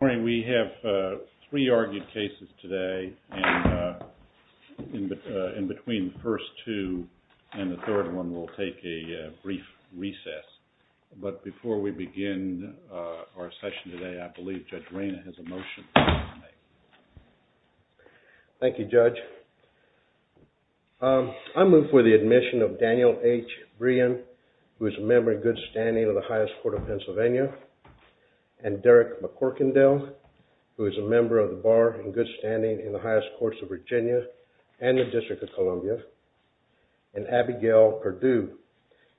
We have three argued cases today, and in between the first two and the third one, we'll take a brief recess. But before we begin our session today, I believe Judge Rayna has a motion to make. Thank you, Judge. I move for the admission of Daniel H. Brien, who is a member in good standing of the Highest Court of Pennsylvania, and Derek McCorkindale, who is a member of the Bar in good standing in the Highest Courts of Virginia and the District of Columbia, and Abigail Perdue,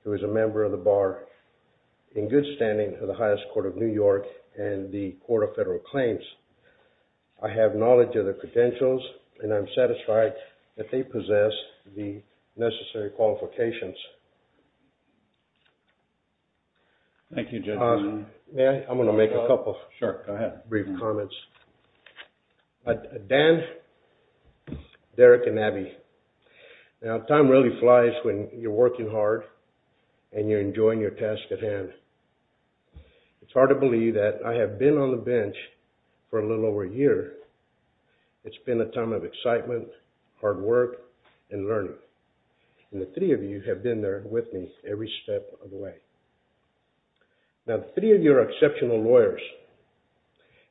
who is a member of the Bar in good standing of the Highest Court of New York and the Court of Federal Claims. I have knowledge of their credentials, and I'm satisfied that they possess the necessary qualifications. Thank you, Judge. May I? I'm going to make a couple brief comments. Dan, Derek, and Abby, time really flies when you're working hard and you're enjoying your task at hand. It's hard to believe that I have been on the bench for a little over a year. It's been a time of excitement, hard work, and learning, and the three of you have been there with me every step of the way. Now, the three of you are exceptional lawyers,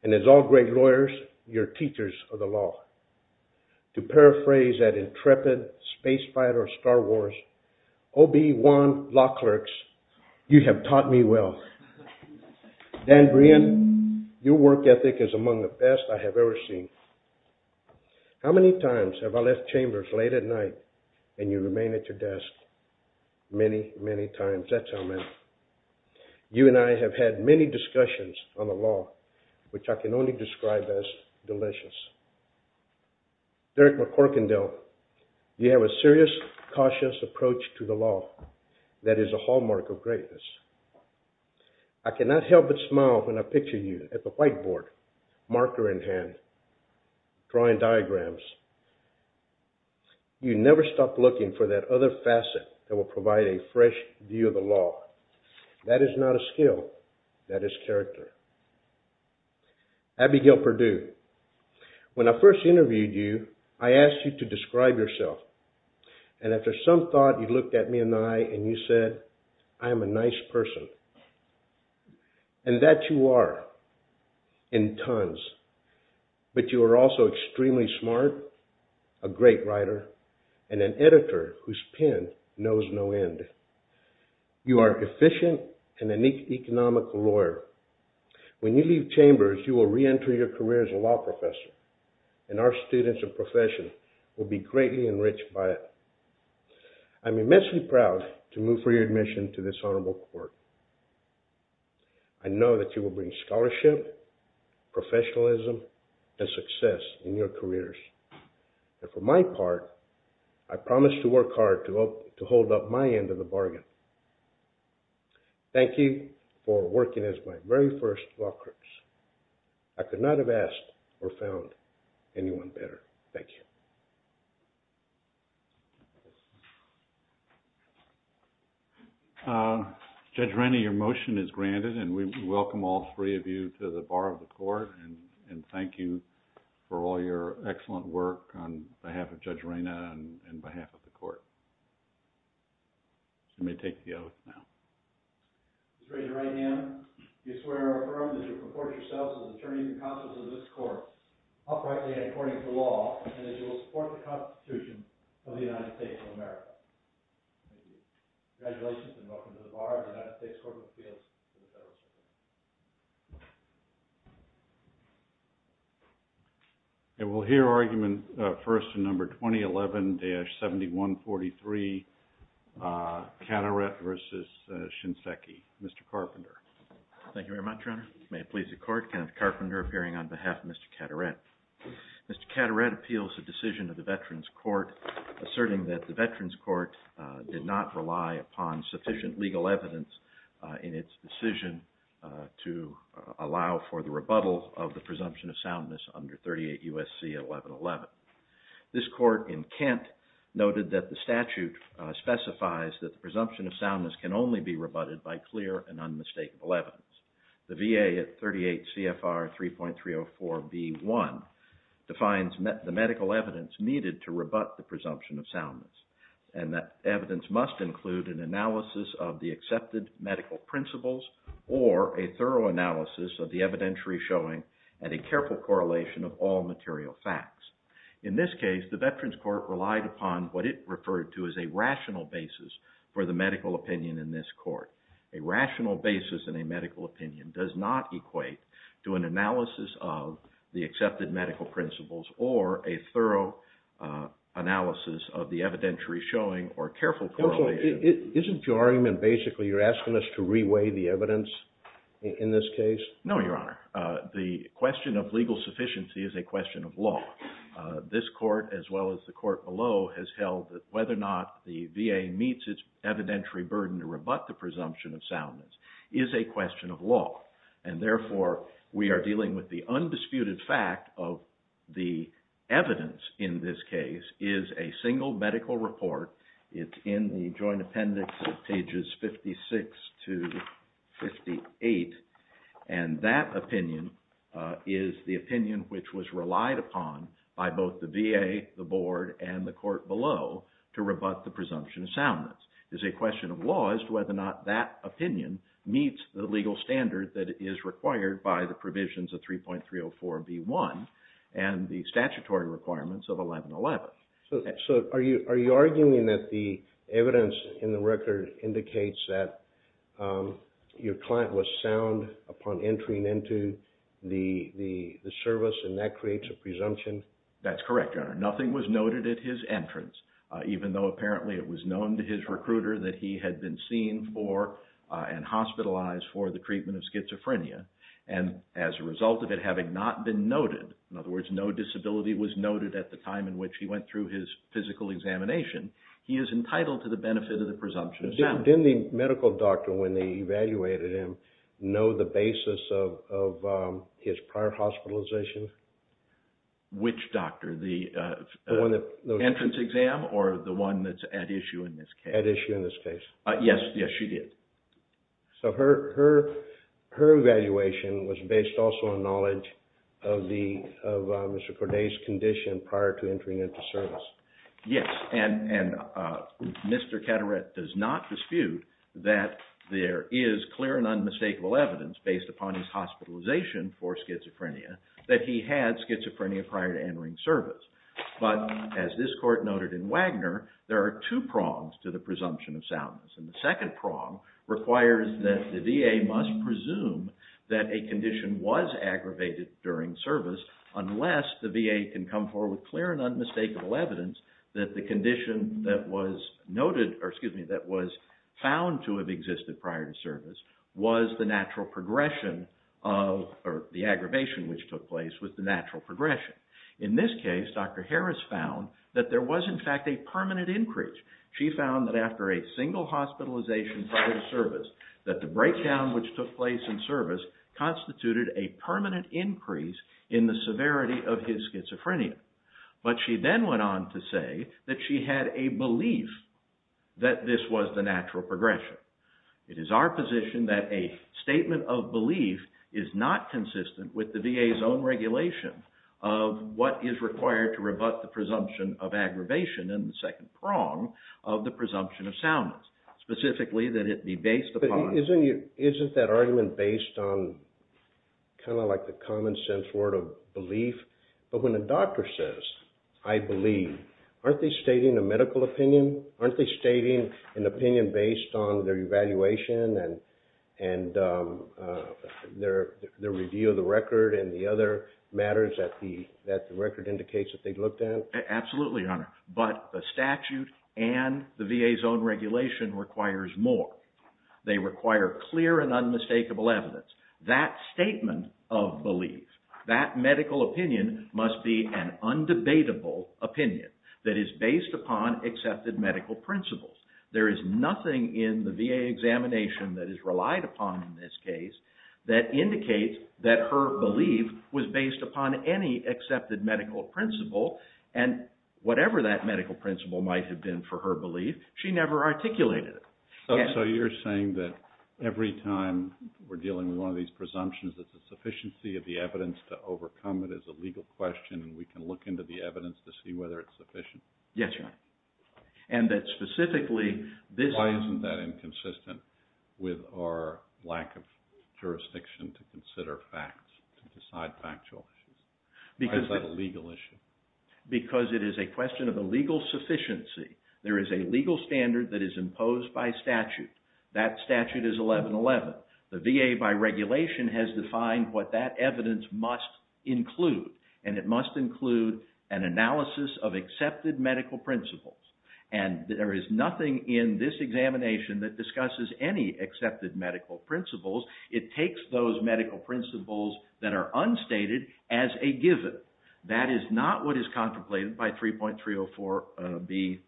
and as all great lawyers, you're teachers of the law. To paraphrase that intrepid space fighter of Star Wars, O.B. Wan, law clerks, you have taught me well. Dan Brien, your work ethic is among the best I have ever seen. How many times have I left chambers late at night and you remain at your desk? Many, many times. That's how many. You and I have had many discussions on the law, which I can only describe as delicious. Derek McCorkendale, you have a serious, cautious approach to the law that is a hallmark of greatness. I cannot help but smile when I picture you at the whiteboard, marker in hand, drawing diagrams. You never stop looking for that other facet that will provide a fresh view of the law. That is not a skill, that is character. Abigail Perdue, when I first interviewed you, I asked you to describe yourself, and after some thought you looked at me in the eye and you said, I am a nice person. And that you are, in tons. But you are also extremely smart, a great writer, and an editor whose pen knows no end. You are an efficient and an economic lawyer. When you leave chambers, you will re-enter your career as a law professor, and our students and profession will be greatly enriched by it. I am immensely proud to move for your admission to this honorable court. I know that you will bring scholarship, professionalism, and success in your careers. And for my part, I promise to work hard to hold up my end of the bargain. Thank you for working as my very first law course. I could not have asked or found anyone better. Thank you. Judge Raina, your motion is granted. And we welcome all three of you to the bar of the court. And thank you for all your excellent work on behalf of Judge Raina and on behalf of the court. You may take the oath now. Judge Raina, in your right hand, you swear or affirm that you will comport yourself as an attorney and counsel to this court, uprightly and according to law, and that you will support the Constitution of the United States of America. Congratulations, and welcome to the bar of the United States Court of Appeals. And we'll hear argument first in number 2011-7143, Catteret versus Shinseki. Mr. Carpenter. Thank you very much, Your Honor. May it please the court, Kenneth Carpenter appearing on behalf of Mr. Catteret. Mr. Catteret appeals the decision of the Veterans Court, asserting that the Veterans Court did not rely upon sufficient legal evidence in its decision to allow for the rebuttal of the presumption of soundness under 38 U.S.C. 1111. This court in Kent noted that the statute specifies that the presumption of soundness can only be rebutted by clear and unmistakable evidence. The VA at 38 CFR 3.304 B.1 defines the medical evidence needed to rebut the presumption of soundness, and that evidence must include an analysis of the accepted medical principles or a thorough analysis of the evidentiary showing and a careful correlation of all material facts. In this case, the Veterans Court relied upon what it referred to as a rational basis for the medical opinion in this court. A rational basis in a medical opinion does not equate to an analysis of the accepted medical principles or a thorough analysis of the evidentiary showing or careful correlation. Counsel, isn't your argument basically you're asking us to reweigh the evidence in this case? No, Your Honor. The question of legal sufficiency is a question of law. This court, as well as the court below, has held that whether or not the VA meets its evidentiary burden to rebut the presumption of soundness is a question of law, and therefore we are dealing with the undisputed fact of the evidence in this case is a single medical report. It's in the joint appendix of pages 56 to 58, and that opinion is the opinion which was relied upon by both the VA, the board, and the court below to rebut the presumption of soundness. It's a question of law as to whether or not that opinion meets the legal standard that is required by the provisions of 3.304B1 and the statutory requirements of 1111. So are you arguing that the evidence in the record indicates that your client was sound upon entering into the service, and that creates a presumption? That's correct, Your Honor. Nothing was noted at his entrance, even though apparently it was known to his recruiter that he had been seen for and hospitalized for the treatment of schizophrenia, and as a result of it having not been noted, in other words, no disability was noted at the time in which he went through his physical examination, he is entitled to the benefit of the presumption of soundness. Didn't the medical doctor, when they evaluated him, know the basis of his prior hospitalization? Which doctor, the entrance exam or the one that's at issue in this case? At issue in this case. Yes, yes, she did. So her evaluation was based also on knowledge of Mr. Corday's condition prior to entering into service. Yes, and Mr. Caderet does not dispute that there is clear and unmistakable evidence based upon his hospitalization for schizophrenia that he had schizophrenia prior to entering service. But as this court noted in Wagner, there are two prongs to the presumption of soundness, and the second prong requires that the VA must presume that a condition was aggravated during service unless the VA can come forward with clear and unmistakable evidence that the condition that was noted, or the aggravation which took place was the natural progression. In this case, Dr. Harris found that there was in fact a permanent increase. She found that after a single hospitalization prior to service, that the breakdown which took place in service constituted a permanent increase in the severity of his schizophrenia. But she then went on to say that she had a belief that this was the natural progression. It is our position that a statement of belief is not consistent with the VA's own regulation of what is required to rebut the presumption of aggravation and the second prong of the presumption of soundness, specifically that it be based upon... Isn't that argument based on kind of like the common sense word of belief? But when a doctor says, I believe, aren't they stating a medical opinion? Aren't they stating an opinion based on their evaluation and their review of the record and the other matters that the record indicates that they looked at? Absolutely, Your Honor. But the statute and the VA's own regulation requires more. They require clear and unmistakable evidence. That statement of belief, that medical opinion must be an undebatable opinion that is based upon accepted medical principles. There is nothing in the VA examination that is relied upon in this case that indicates that her belief was based upon any accepted medical principle and whatever that medical principle might have been for her belief, she never articulated it. So you're saying that every time we're dealing with one of these presumptions that the sufficiency of the evidence to overcome it is a legal question and we can look into the evidence to see whether it's sufficient? Yes, Your Honor. And that specifically this... Why isn't that inconsistent with our lack of jurisdiction to consider facts, to decide factual issues? Why is that a legal issue? Because it is a question of a legal sufficiency. There is a legal standard that is imposed by statute. That statute is 1111. The VA by regulation has defined what that evidence must include and it must include an analysis of accepted medical principles. And there is nothing in this examination that discusses any accepted medical principles. It takes those medical principles that are unstated as a given. That is not what is contemplated by 3.304B1.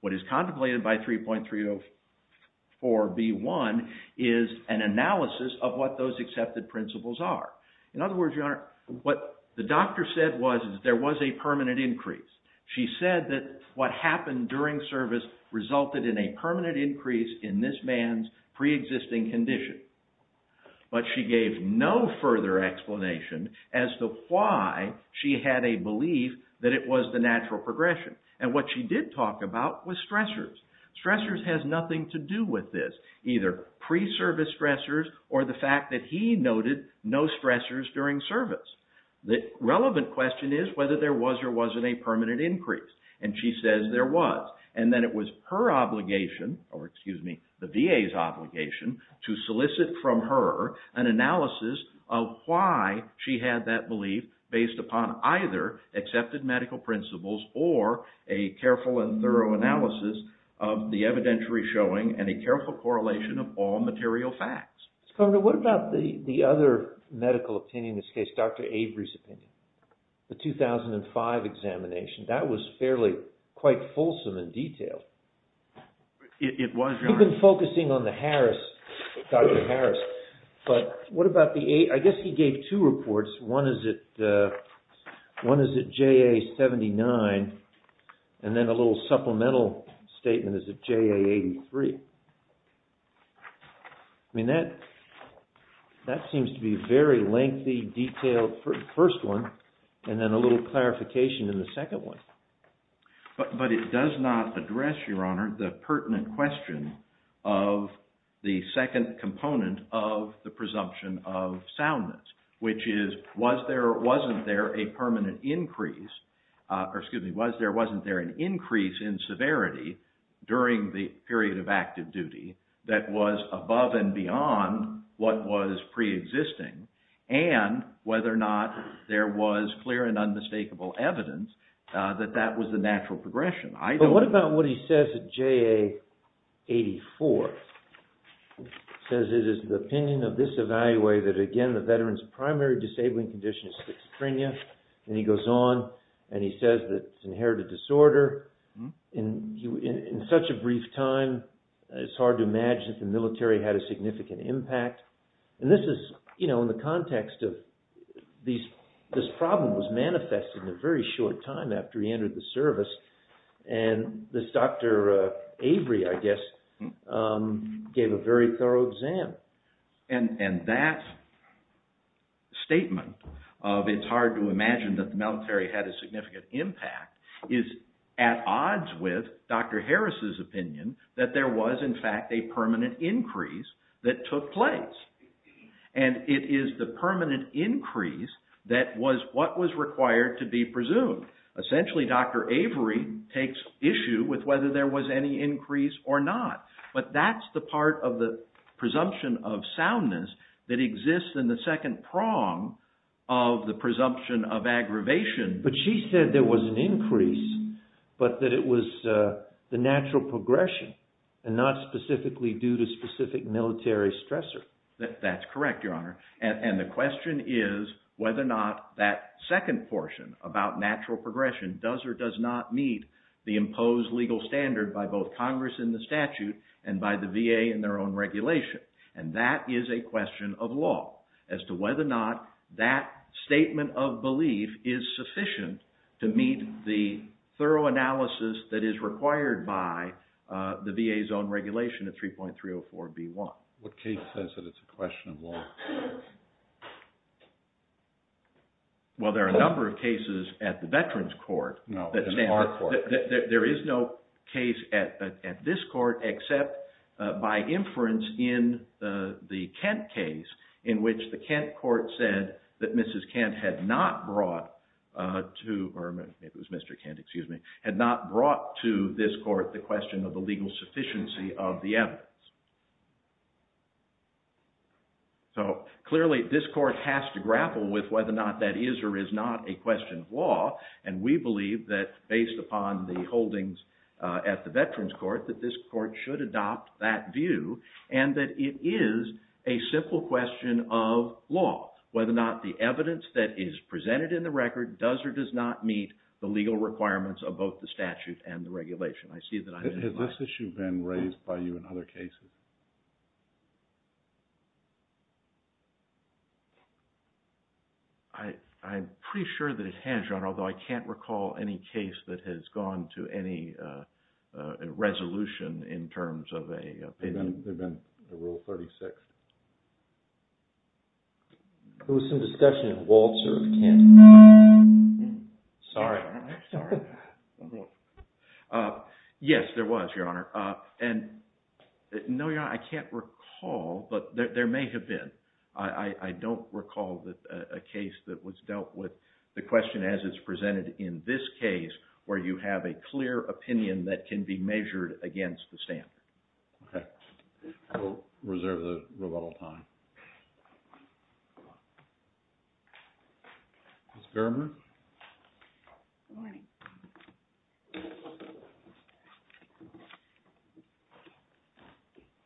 What is contemplated by 3.304B1 is an analysis of what those accepted principles are. In other words, Your Honor, what the doctor said was there was a permanent increase. She said that what happened during service resulted in a permanent increase in this man's pre-existing condition. But she gave no further explanation as to why she had a belief that it was the natural progression. And what she did talk about was stressors. Stressors has nothing to do with this. Either pre-service stressors or the fact that he noted no stressors during service. The relevant question is whether there was or wasn't a permanent increase. And she says there was. And then it was her obligation, or excuse me, the VA's obligation, to solicit from her an analysis of why she had that belief based upon either accepted medical principles or a careful and thorough analysis of the evidentiary showing and a careful correlation of all material facts. Governor, what about the other medical opinion in this case, Dr. Avery's opinion, the 2005 examination? That was fairly quite fulsome in detail. It was, Your Honor. You've been focusing on the Harris, Dr. Harris. But what about the, I guess he gave two reports. One is at JA-79 and then a little supplemental statement is at JA-83. I mean, that seems to be a very lengthy, detailed first one and then a little clarification in the second one. But it does not address, Your Honor, the pertinent question of the second component of the presumption of soundness, which is was there or wasn't there a permanent increase, or excuse me, was there or wasn't there an increase in severity during the period of active duty that was above and beyond what was preexisting and whether or not there was clear and unmistakable evidence that that was the natural progression. But what about what he says at JA-84? He says it is the opinion of this evaluator that, again, the veteran's primary disabling condition is schizophrenia. And he goes on and he says that it's inherited disorder. In such a brief time, it's hard to imagine that the military had a significant impact. And this is, you know, in the context of this problem was manifested in a very short time after he entered the service. And this Dr. Avery, I guess, gave a very thorough exam. And that statement of it's hard to imagine that the military had a significant impact is at odds with Dr. Harris's opinion that there was, in fact, a permanent increase that took place. And it is the permanent increase that was what was required to be presumed. Essentially, Dr. Avery takes issue with whether there was any increase or not. But that's the part of the presumption of soundness that exists in the second prong of the presumption of aggravation. But she said there was an increase, but that it was the natural progression and not specifically due to specific military stressor. That's correct, Your Honor. And the question is whether or not that second portion about natural progression does or does not meet the imposed legal standard by both Congress in the statute and by the VA in their own regulation. And that is a question of law as to whether or not that statement of belief is sufficient to meet the thorough analysis that is required by the VA's own regulation of 3.304B1. What case says that it's a question of law? Well, there are a number of cases at the Veterans Court. No, in our court. There is no case at this court except by inference in the Kent case in which the Kent court said that Mrs. Kent had not brought to, or it was Mr. Kent, excuse me, had not brought to this court the question of the legal sufficiency of the evidence. So clearly this court has to grapple with whether or not that is or is not a question of law, and we believe that based upon the holdings at the Veterans Court that this court should adopt that view and that it is a simple question of law, whether or not the evidence that is presented in the record does or does not meet the legal requirements of both the statute and the regulation. Has this issue been raised by you in other cases? I'm pretty sure that it has, John, although I can't recall any case that has gone to any resolution in terms of a... There's been a rule 36. There was some discussion in Walter of Kent. Sorry. Yes, there was, Your Honor. No, Your Honor, I can't recall, but there may have been. I don't recall a case that was dealt with the question as it's presented in this case where you have a clear opinion that can be measured against the stand. Okay. We'll reserve the rebuttal time. Ms. Gerber? Good morning.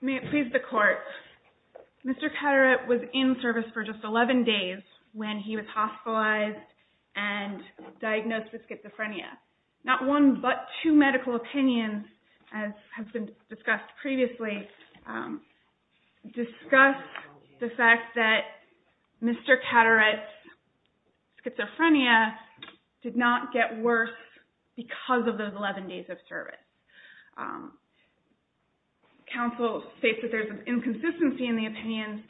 May it please the Court. Mr. Catteret was in service for just 11 days when he was hospitalized and diagnosed with schizophrenia. Not one but two medical opinions, as has been discussed previously, discuss the fact that Mr. Catteret's schizophrenia did not get worse because of those 11 days of service. Counsel states that there's an inconsistency in the opinion,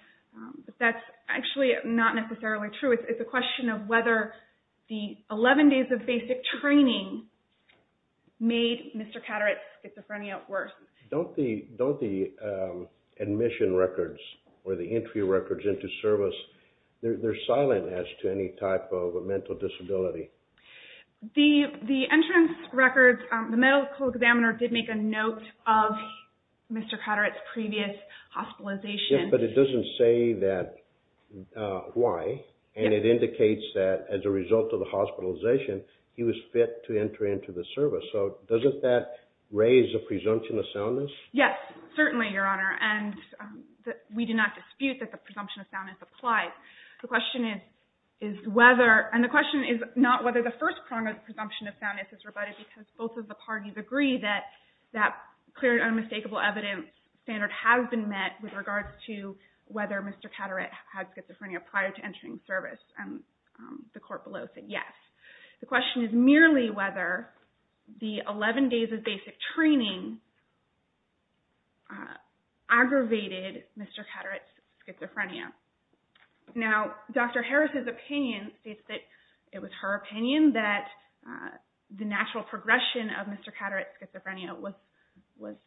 but that's actually not necessarily true. It's a question of whether the 11 days of basic training made Mr. Catteret's schizophrenia worse. Don't the admission records or the entry records into service, they're silent as to any type of mental disability. The entrance records, the medical examiner did make a note of Mr. Catteret's previous hospitalization. Yes, but it doesn't say why, and it indicates that as a result of the hospitalization, he was fit to enter into the service. So doesn't that raise a presumption of soundness? Yes, certainly, Your Honor, and we do not dispute that the presumption of soundness applies. The question is not whether the first prong of the presumption of soundness is rebutted because both of the parties agree that that clear and unmistakable evidence standard has been met with regards to whether Mr. Catteret had schizophrenia prior to entering service. The court below said yes. The question is merely whether the 11 days of basic training aggravated Mr. Catteret's schizophrenia. Now, Dr. Harris's opinion states that it was her opinion that the natural progression of Mr. Catteret's schizophrenia was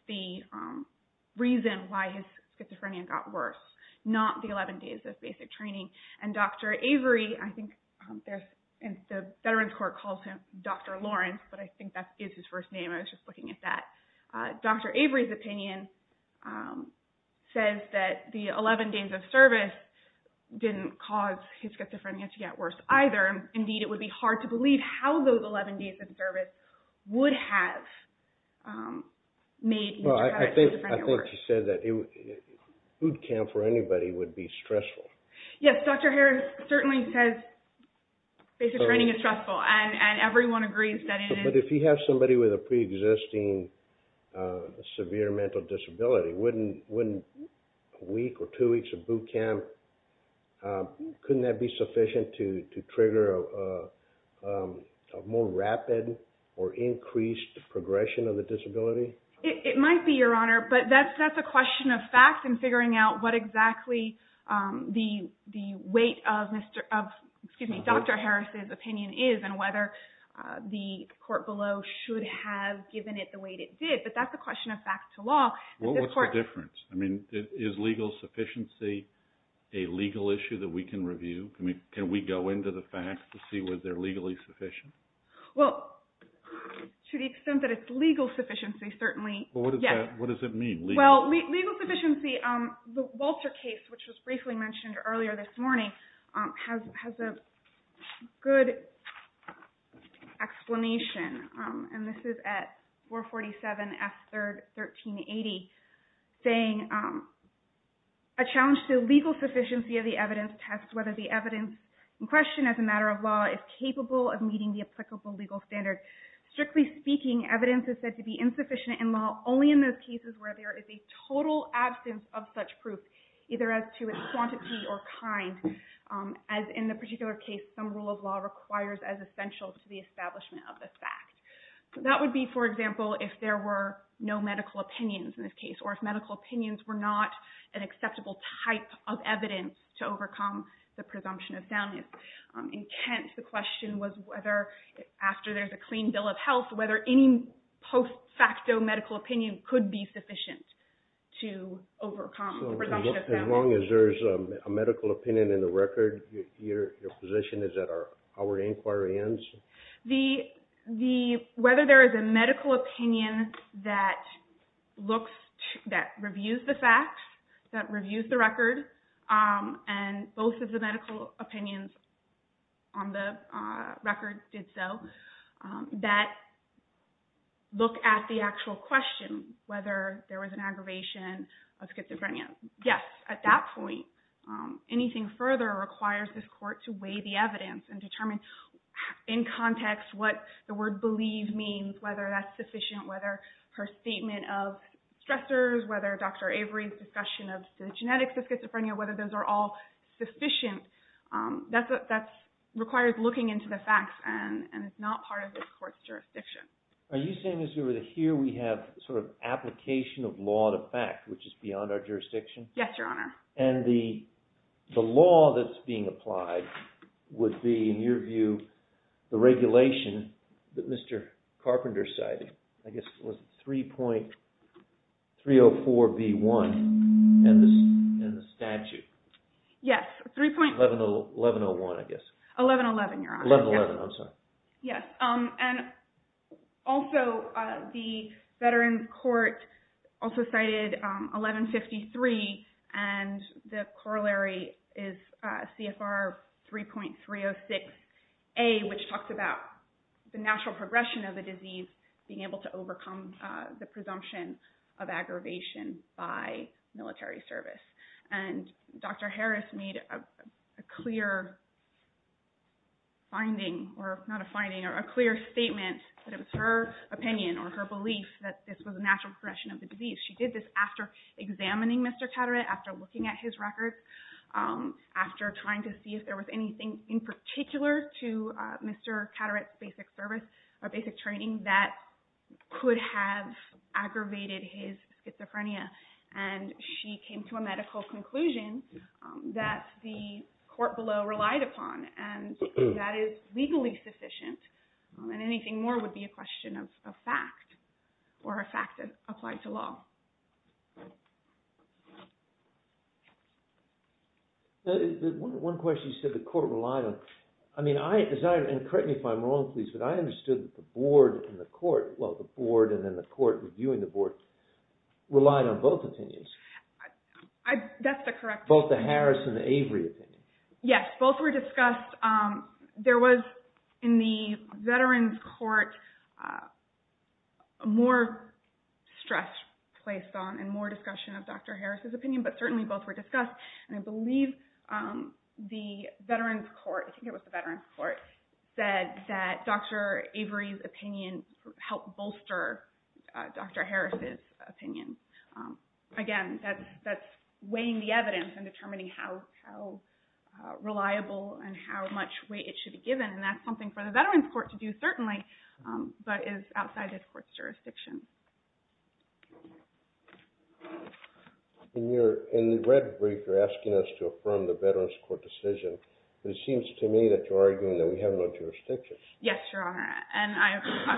the reason why his schizophrenia got worse, not the 11 days of basic training. And Dr. Avery, I think, and the Veterans Court calls him Dr. Lawrence, but I think that is his first name. I was just looking at that. Dr. Avery's opinion says that the 11 days of service didn't cause his schizophrenia to get worse either. Indeed, it would be hard to believe how those 11 days of service would have made Mr. Catteret's schizophrenia worse. Well, I think she said that boot camp for anybody would be stressful. Yes, Dr. Harris certainly says basic training is stressful, and everyone agrees that it is. But if you have somebody with a preexisting severe mental disability, wouldn't a week or two weeks of boot camp, couldn't that be sufficient to trigger a more rapid or increased progression of the disability? It might be, Your Honor, but that's a question of facts and figuring out what exactly the weight of Dr. Harris's opinion is and whether the court below should have given it the weight it did. But that's a question of facts to law. What's the difference? I mean, is legal sufficiency a legal issue that we can review? Can we go into the facts to see whether they're legally sufficient? Well, to the extent that it's legal sufficiency, certainly, yes. What does it mean, legal? Well, legal sufficiency, the Walter case, which was briefly mentioned earlier this morning, has a good explanation, and this is at 447 F. 3rd, 1380, saying a challenge to legal sufficiency of the evidence tests whether the evidence in question as a matter of law is capable of meeting the applicable legal standard. Strictly speaking, evidence is said to be insufficient in law only in those cases where there is a total absence of such proof, either as to its quantity or kind, as in the particular case, some rule of law requires as essential to the establishment of the fact. That would be, for example, if there were no medical opinions in this case or if medical opinions were not an acceptable type of evidence to overcome the presumption of soundness. In Kent, the question was whether after there's a clean bill of health, whether any post facto medical opinion could be sufficient to overcome the presumption of soundness. As long as there's a medical opinion in the record, your position is that our inquiry ends? Whether there is a medical opinion that reviews the facts, that reviews the record, and both of the medical opinions on the record did so, that look at the actual question, whether there was an aggravation of schizophrenia. Yes, at that point, anything further requires this court to weigh the evidence and determine in context what the word believe means, whether that's sufficient, whether her statement of stressors, whether Dr. Avery's discussion of the genetics of schizophrenia, whether those are all sufficient. That requires looking into the facts, and it's not part of this court's jurisdiction. Are you saying that here we have sort of application of law to fact, which is beyond our jurisdiction? Yes, Your Honor. And the law that's being applied would be, in your view, the regulation that Mr. Carpenter cited. I guess it was 3.304B1 in the statute. Yes, 3. 1101, I guess. 1111, Your Honor. 1111, I'm sorry. Yes, and also the Veterans Court also cited 1153, and the corollary is CFR 3.306A, which talks about the natural progression of the disease, being able to overcome the presumption of aggravation by military service. And Dr. Harris made a clear finding, or not a finding, or a clear statement that it was her opinion or her belief that this was a natural progression of the disease. She did this after examining Mr. Catteret, after looking at his records, after trying to see if there was anything in particular to Mr. Catteret's basic service or basic training that could have aggravated his schizophrenia. And she came to a medical conclusion that the court below relied upon, and that is legally sufficient, and anything more would be a question of fact, or a fact that applied to law. One question you said the court relied on. I mean, and correct me if I'm wrong, please, but I understood that the board and the court, you and the board relied on both opinions. That's the correct... Both the Harris and the Avery opinions. Yes, both were discussed. There was, in the Veterans Court, more stress placed on and more discussion of Dr. Harris's opinion, but certainly both were discussed. And I believe the Veterans Court, I think it was the Veterans Court, said that Dr. Avery's opinion helped bolster Dr. Harris's opinion. Again, that's weighing the evidence and determining how reliable and how much weight it should be given, and that's something for the Veterans Court to do, certainly, but is outside this court's jurisdiction. In the red brief, you're asking us to affirm the Veterans Court decision, but it seems to me that you're arguing that we have no jurisdiction. Yes, Your Honor. And I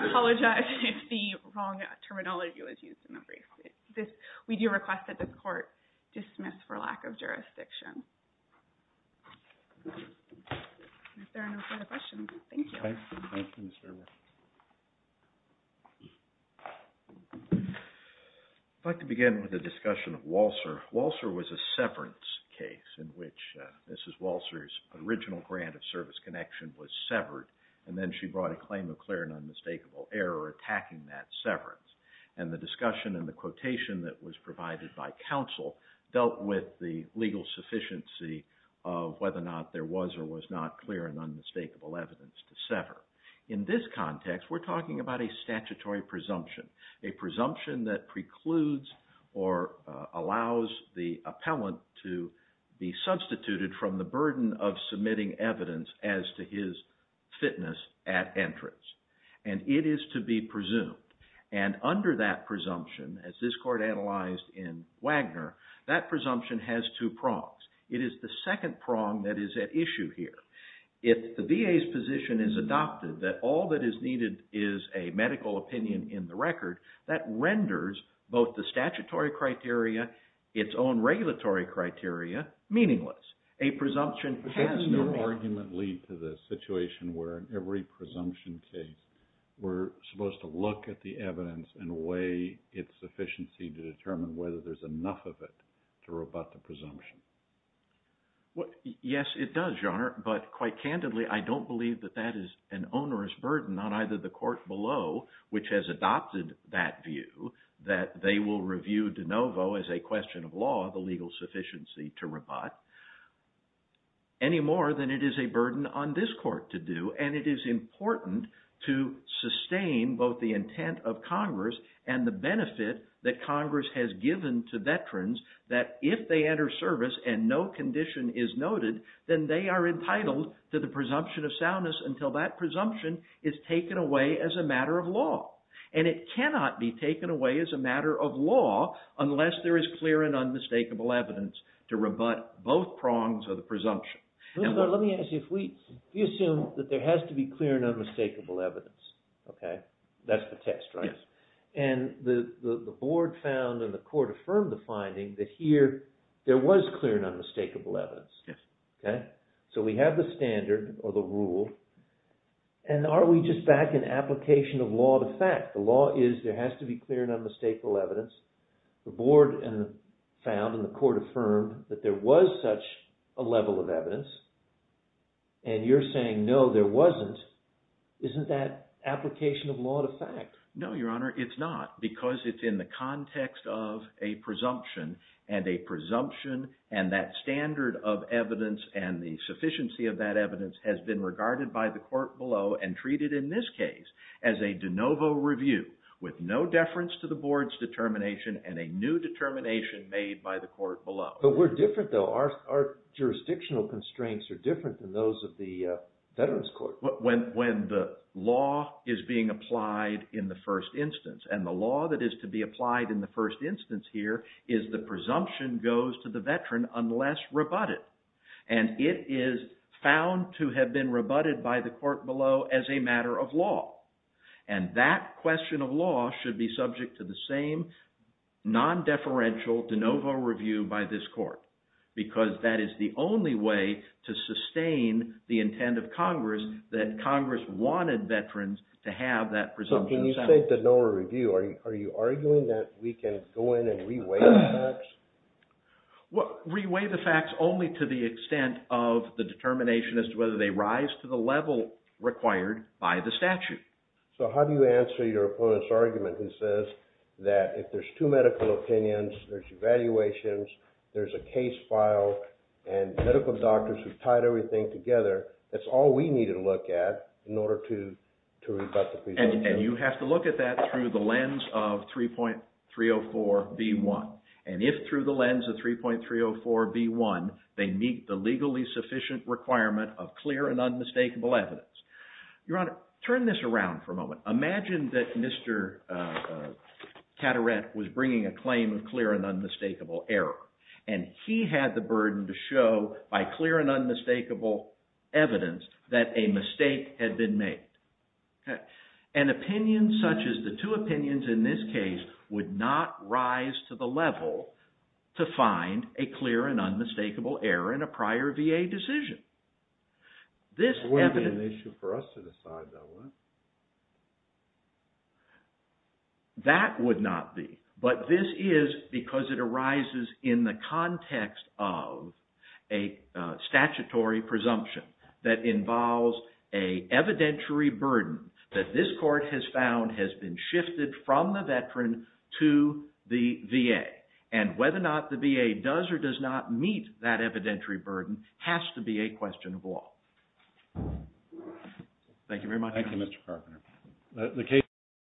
apologize if the wrong terminology was used in the brief. We do request that the court dismiss for lack of jurisdiction. If there are no further questions, thank you. Thank you. I'd like to begin with a discussion of Walser. Walser was a severance case in which Mrs. Walser's original grant of service connection was severed, and then she brought a claim of clear and unmistakable error attacking that severance. And the discussion and the quotation that was provided by counsel dealt with the legal sufficiency of whether or not there was or was not clear and unmistakable evidence to sever. In this context, we're talking about a statutory presumption, a presumption that precludes or allows the appellant to be substituted from the burden of submitting evidence as to his fitness at entrance. And it is to be presumed. And under that presumption, as this court analyzed in Wagner, that presumption has two prongs. It is the second prong that is at issue here. If the VA's position is adopted that all that is needed is a medical opinion in the record, that renders both the statutory criteria, its own regulatory criteria, meaningless. A presumption has no meaning. But doesn't your argument lead to the situation where in every presumption case, we're supposed to look at the evidence and weigh its sufficiency to determine whether there's enough of it to rebut the presumption? Yes, it does, Your Honor, but quite candidly, I don't believe that that is an onerous burden on either the court below, which has adopted that view, that they will review de novo as a question of law the legal sufficiency to rebut, any more than it is a burden on this court to do. And it is important to sustain both the intent of Congress and the benefit that Congress has given to veterans that if they enter service and no condition is noted, then they are entitled to the presumption of soundness until that presumption is taken away as a matter of law. And it cannot be taken away as a matter of law unless there is clear and unmistakable evidence to rebut both prongs of the presumption. Let me ask you, if we assume that there has to be clear and unmistakable evidence, that's the test, right? And the board found and the court affirmed the finding that here, there was clear and unmistakable evidence. So we have the standard or the rule and are we just back in application of law to fact? The law is there has to be clear and unmistakable evidence. The board found and the court affirmed that there was such a level of evidence and you're saying no, there wasn't. Isn't that application of law to fact? No, Your Honor, it's not because it's in the context of a presumption and a presumption and that standard of evidence and the sufficiency of that evidence has been regarded by the court below and treated in this case as a de novo review with no deference to the board's determination and a new determination made by the court below. But we're different though. Our jurisdictional constraints are different than those of the Veterans Court. When the law is being applied in the first instance and the law that is to be applied in the first instance here is the presumption goes to the veteran unless rebutted and it is found to have been rebutted by the court below as a matter of law and that question of law should be subject to the same non-deferential de novo review by this court because that is the only way to sustain the intent of Congress that Congress wanted veterans to have that presumption. So can you say de novo review? Are you arguing that we can go in and reweigh the facts? Well, reweigh the facts only to the extent of the determination as to whether they rise to the level required by the statute. So how do you answer your opponent's argument who says that if there's two medical opinions, there's evaluations, there's a case file and medical doctors who tied everything together, that's all we need to look at in order to rebut the presumption. And you have to look at that through the lens of 3.304b1 and if through the lens of 3.304b1 they meet the legally sufficient requirement of clear and unmistakable evidence. Your Honor, turn this around for a moment. Imagine that Mr. Caderet was bringing a claim of clear and unmistakable error and he had the burden to show by clear and unmistakable evidence that a mistake had been made. An opinion such as the two opinions in this case would not rise to the level to find a clear and unmistakable error in a prior VA decision. This evidence... It wouldn't be an issue for us to decide, though, would it? That would not be. But this is because it arises in the context of a statutory presumption that involves an evidentiary burden that this court has found has been shifted from the veteran to the VA. And whether or not the VA does or does not meet that evidentiary burden has to be a question of law. Thank you very much. Thank you, Mr. Carpenter.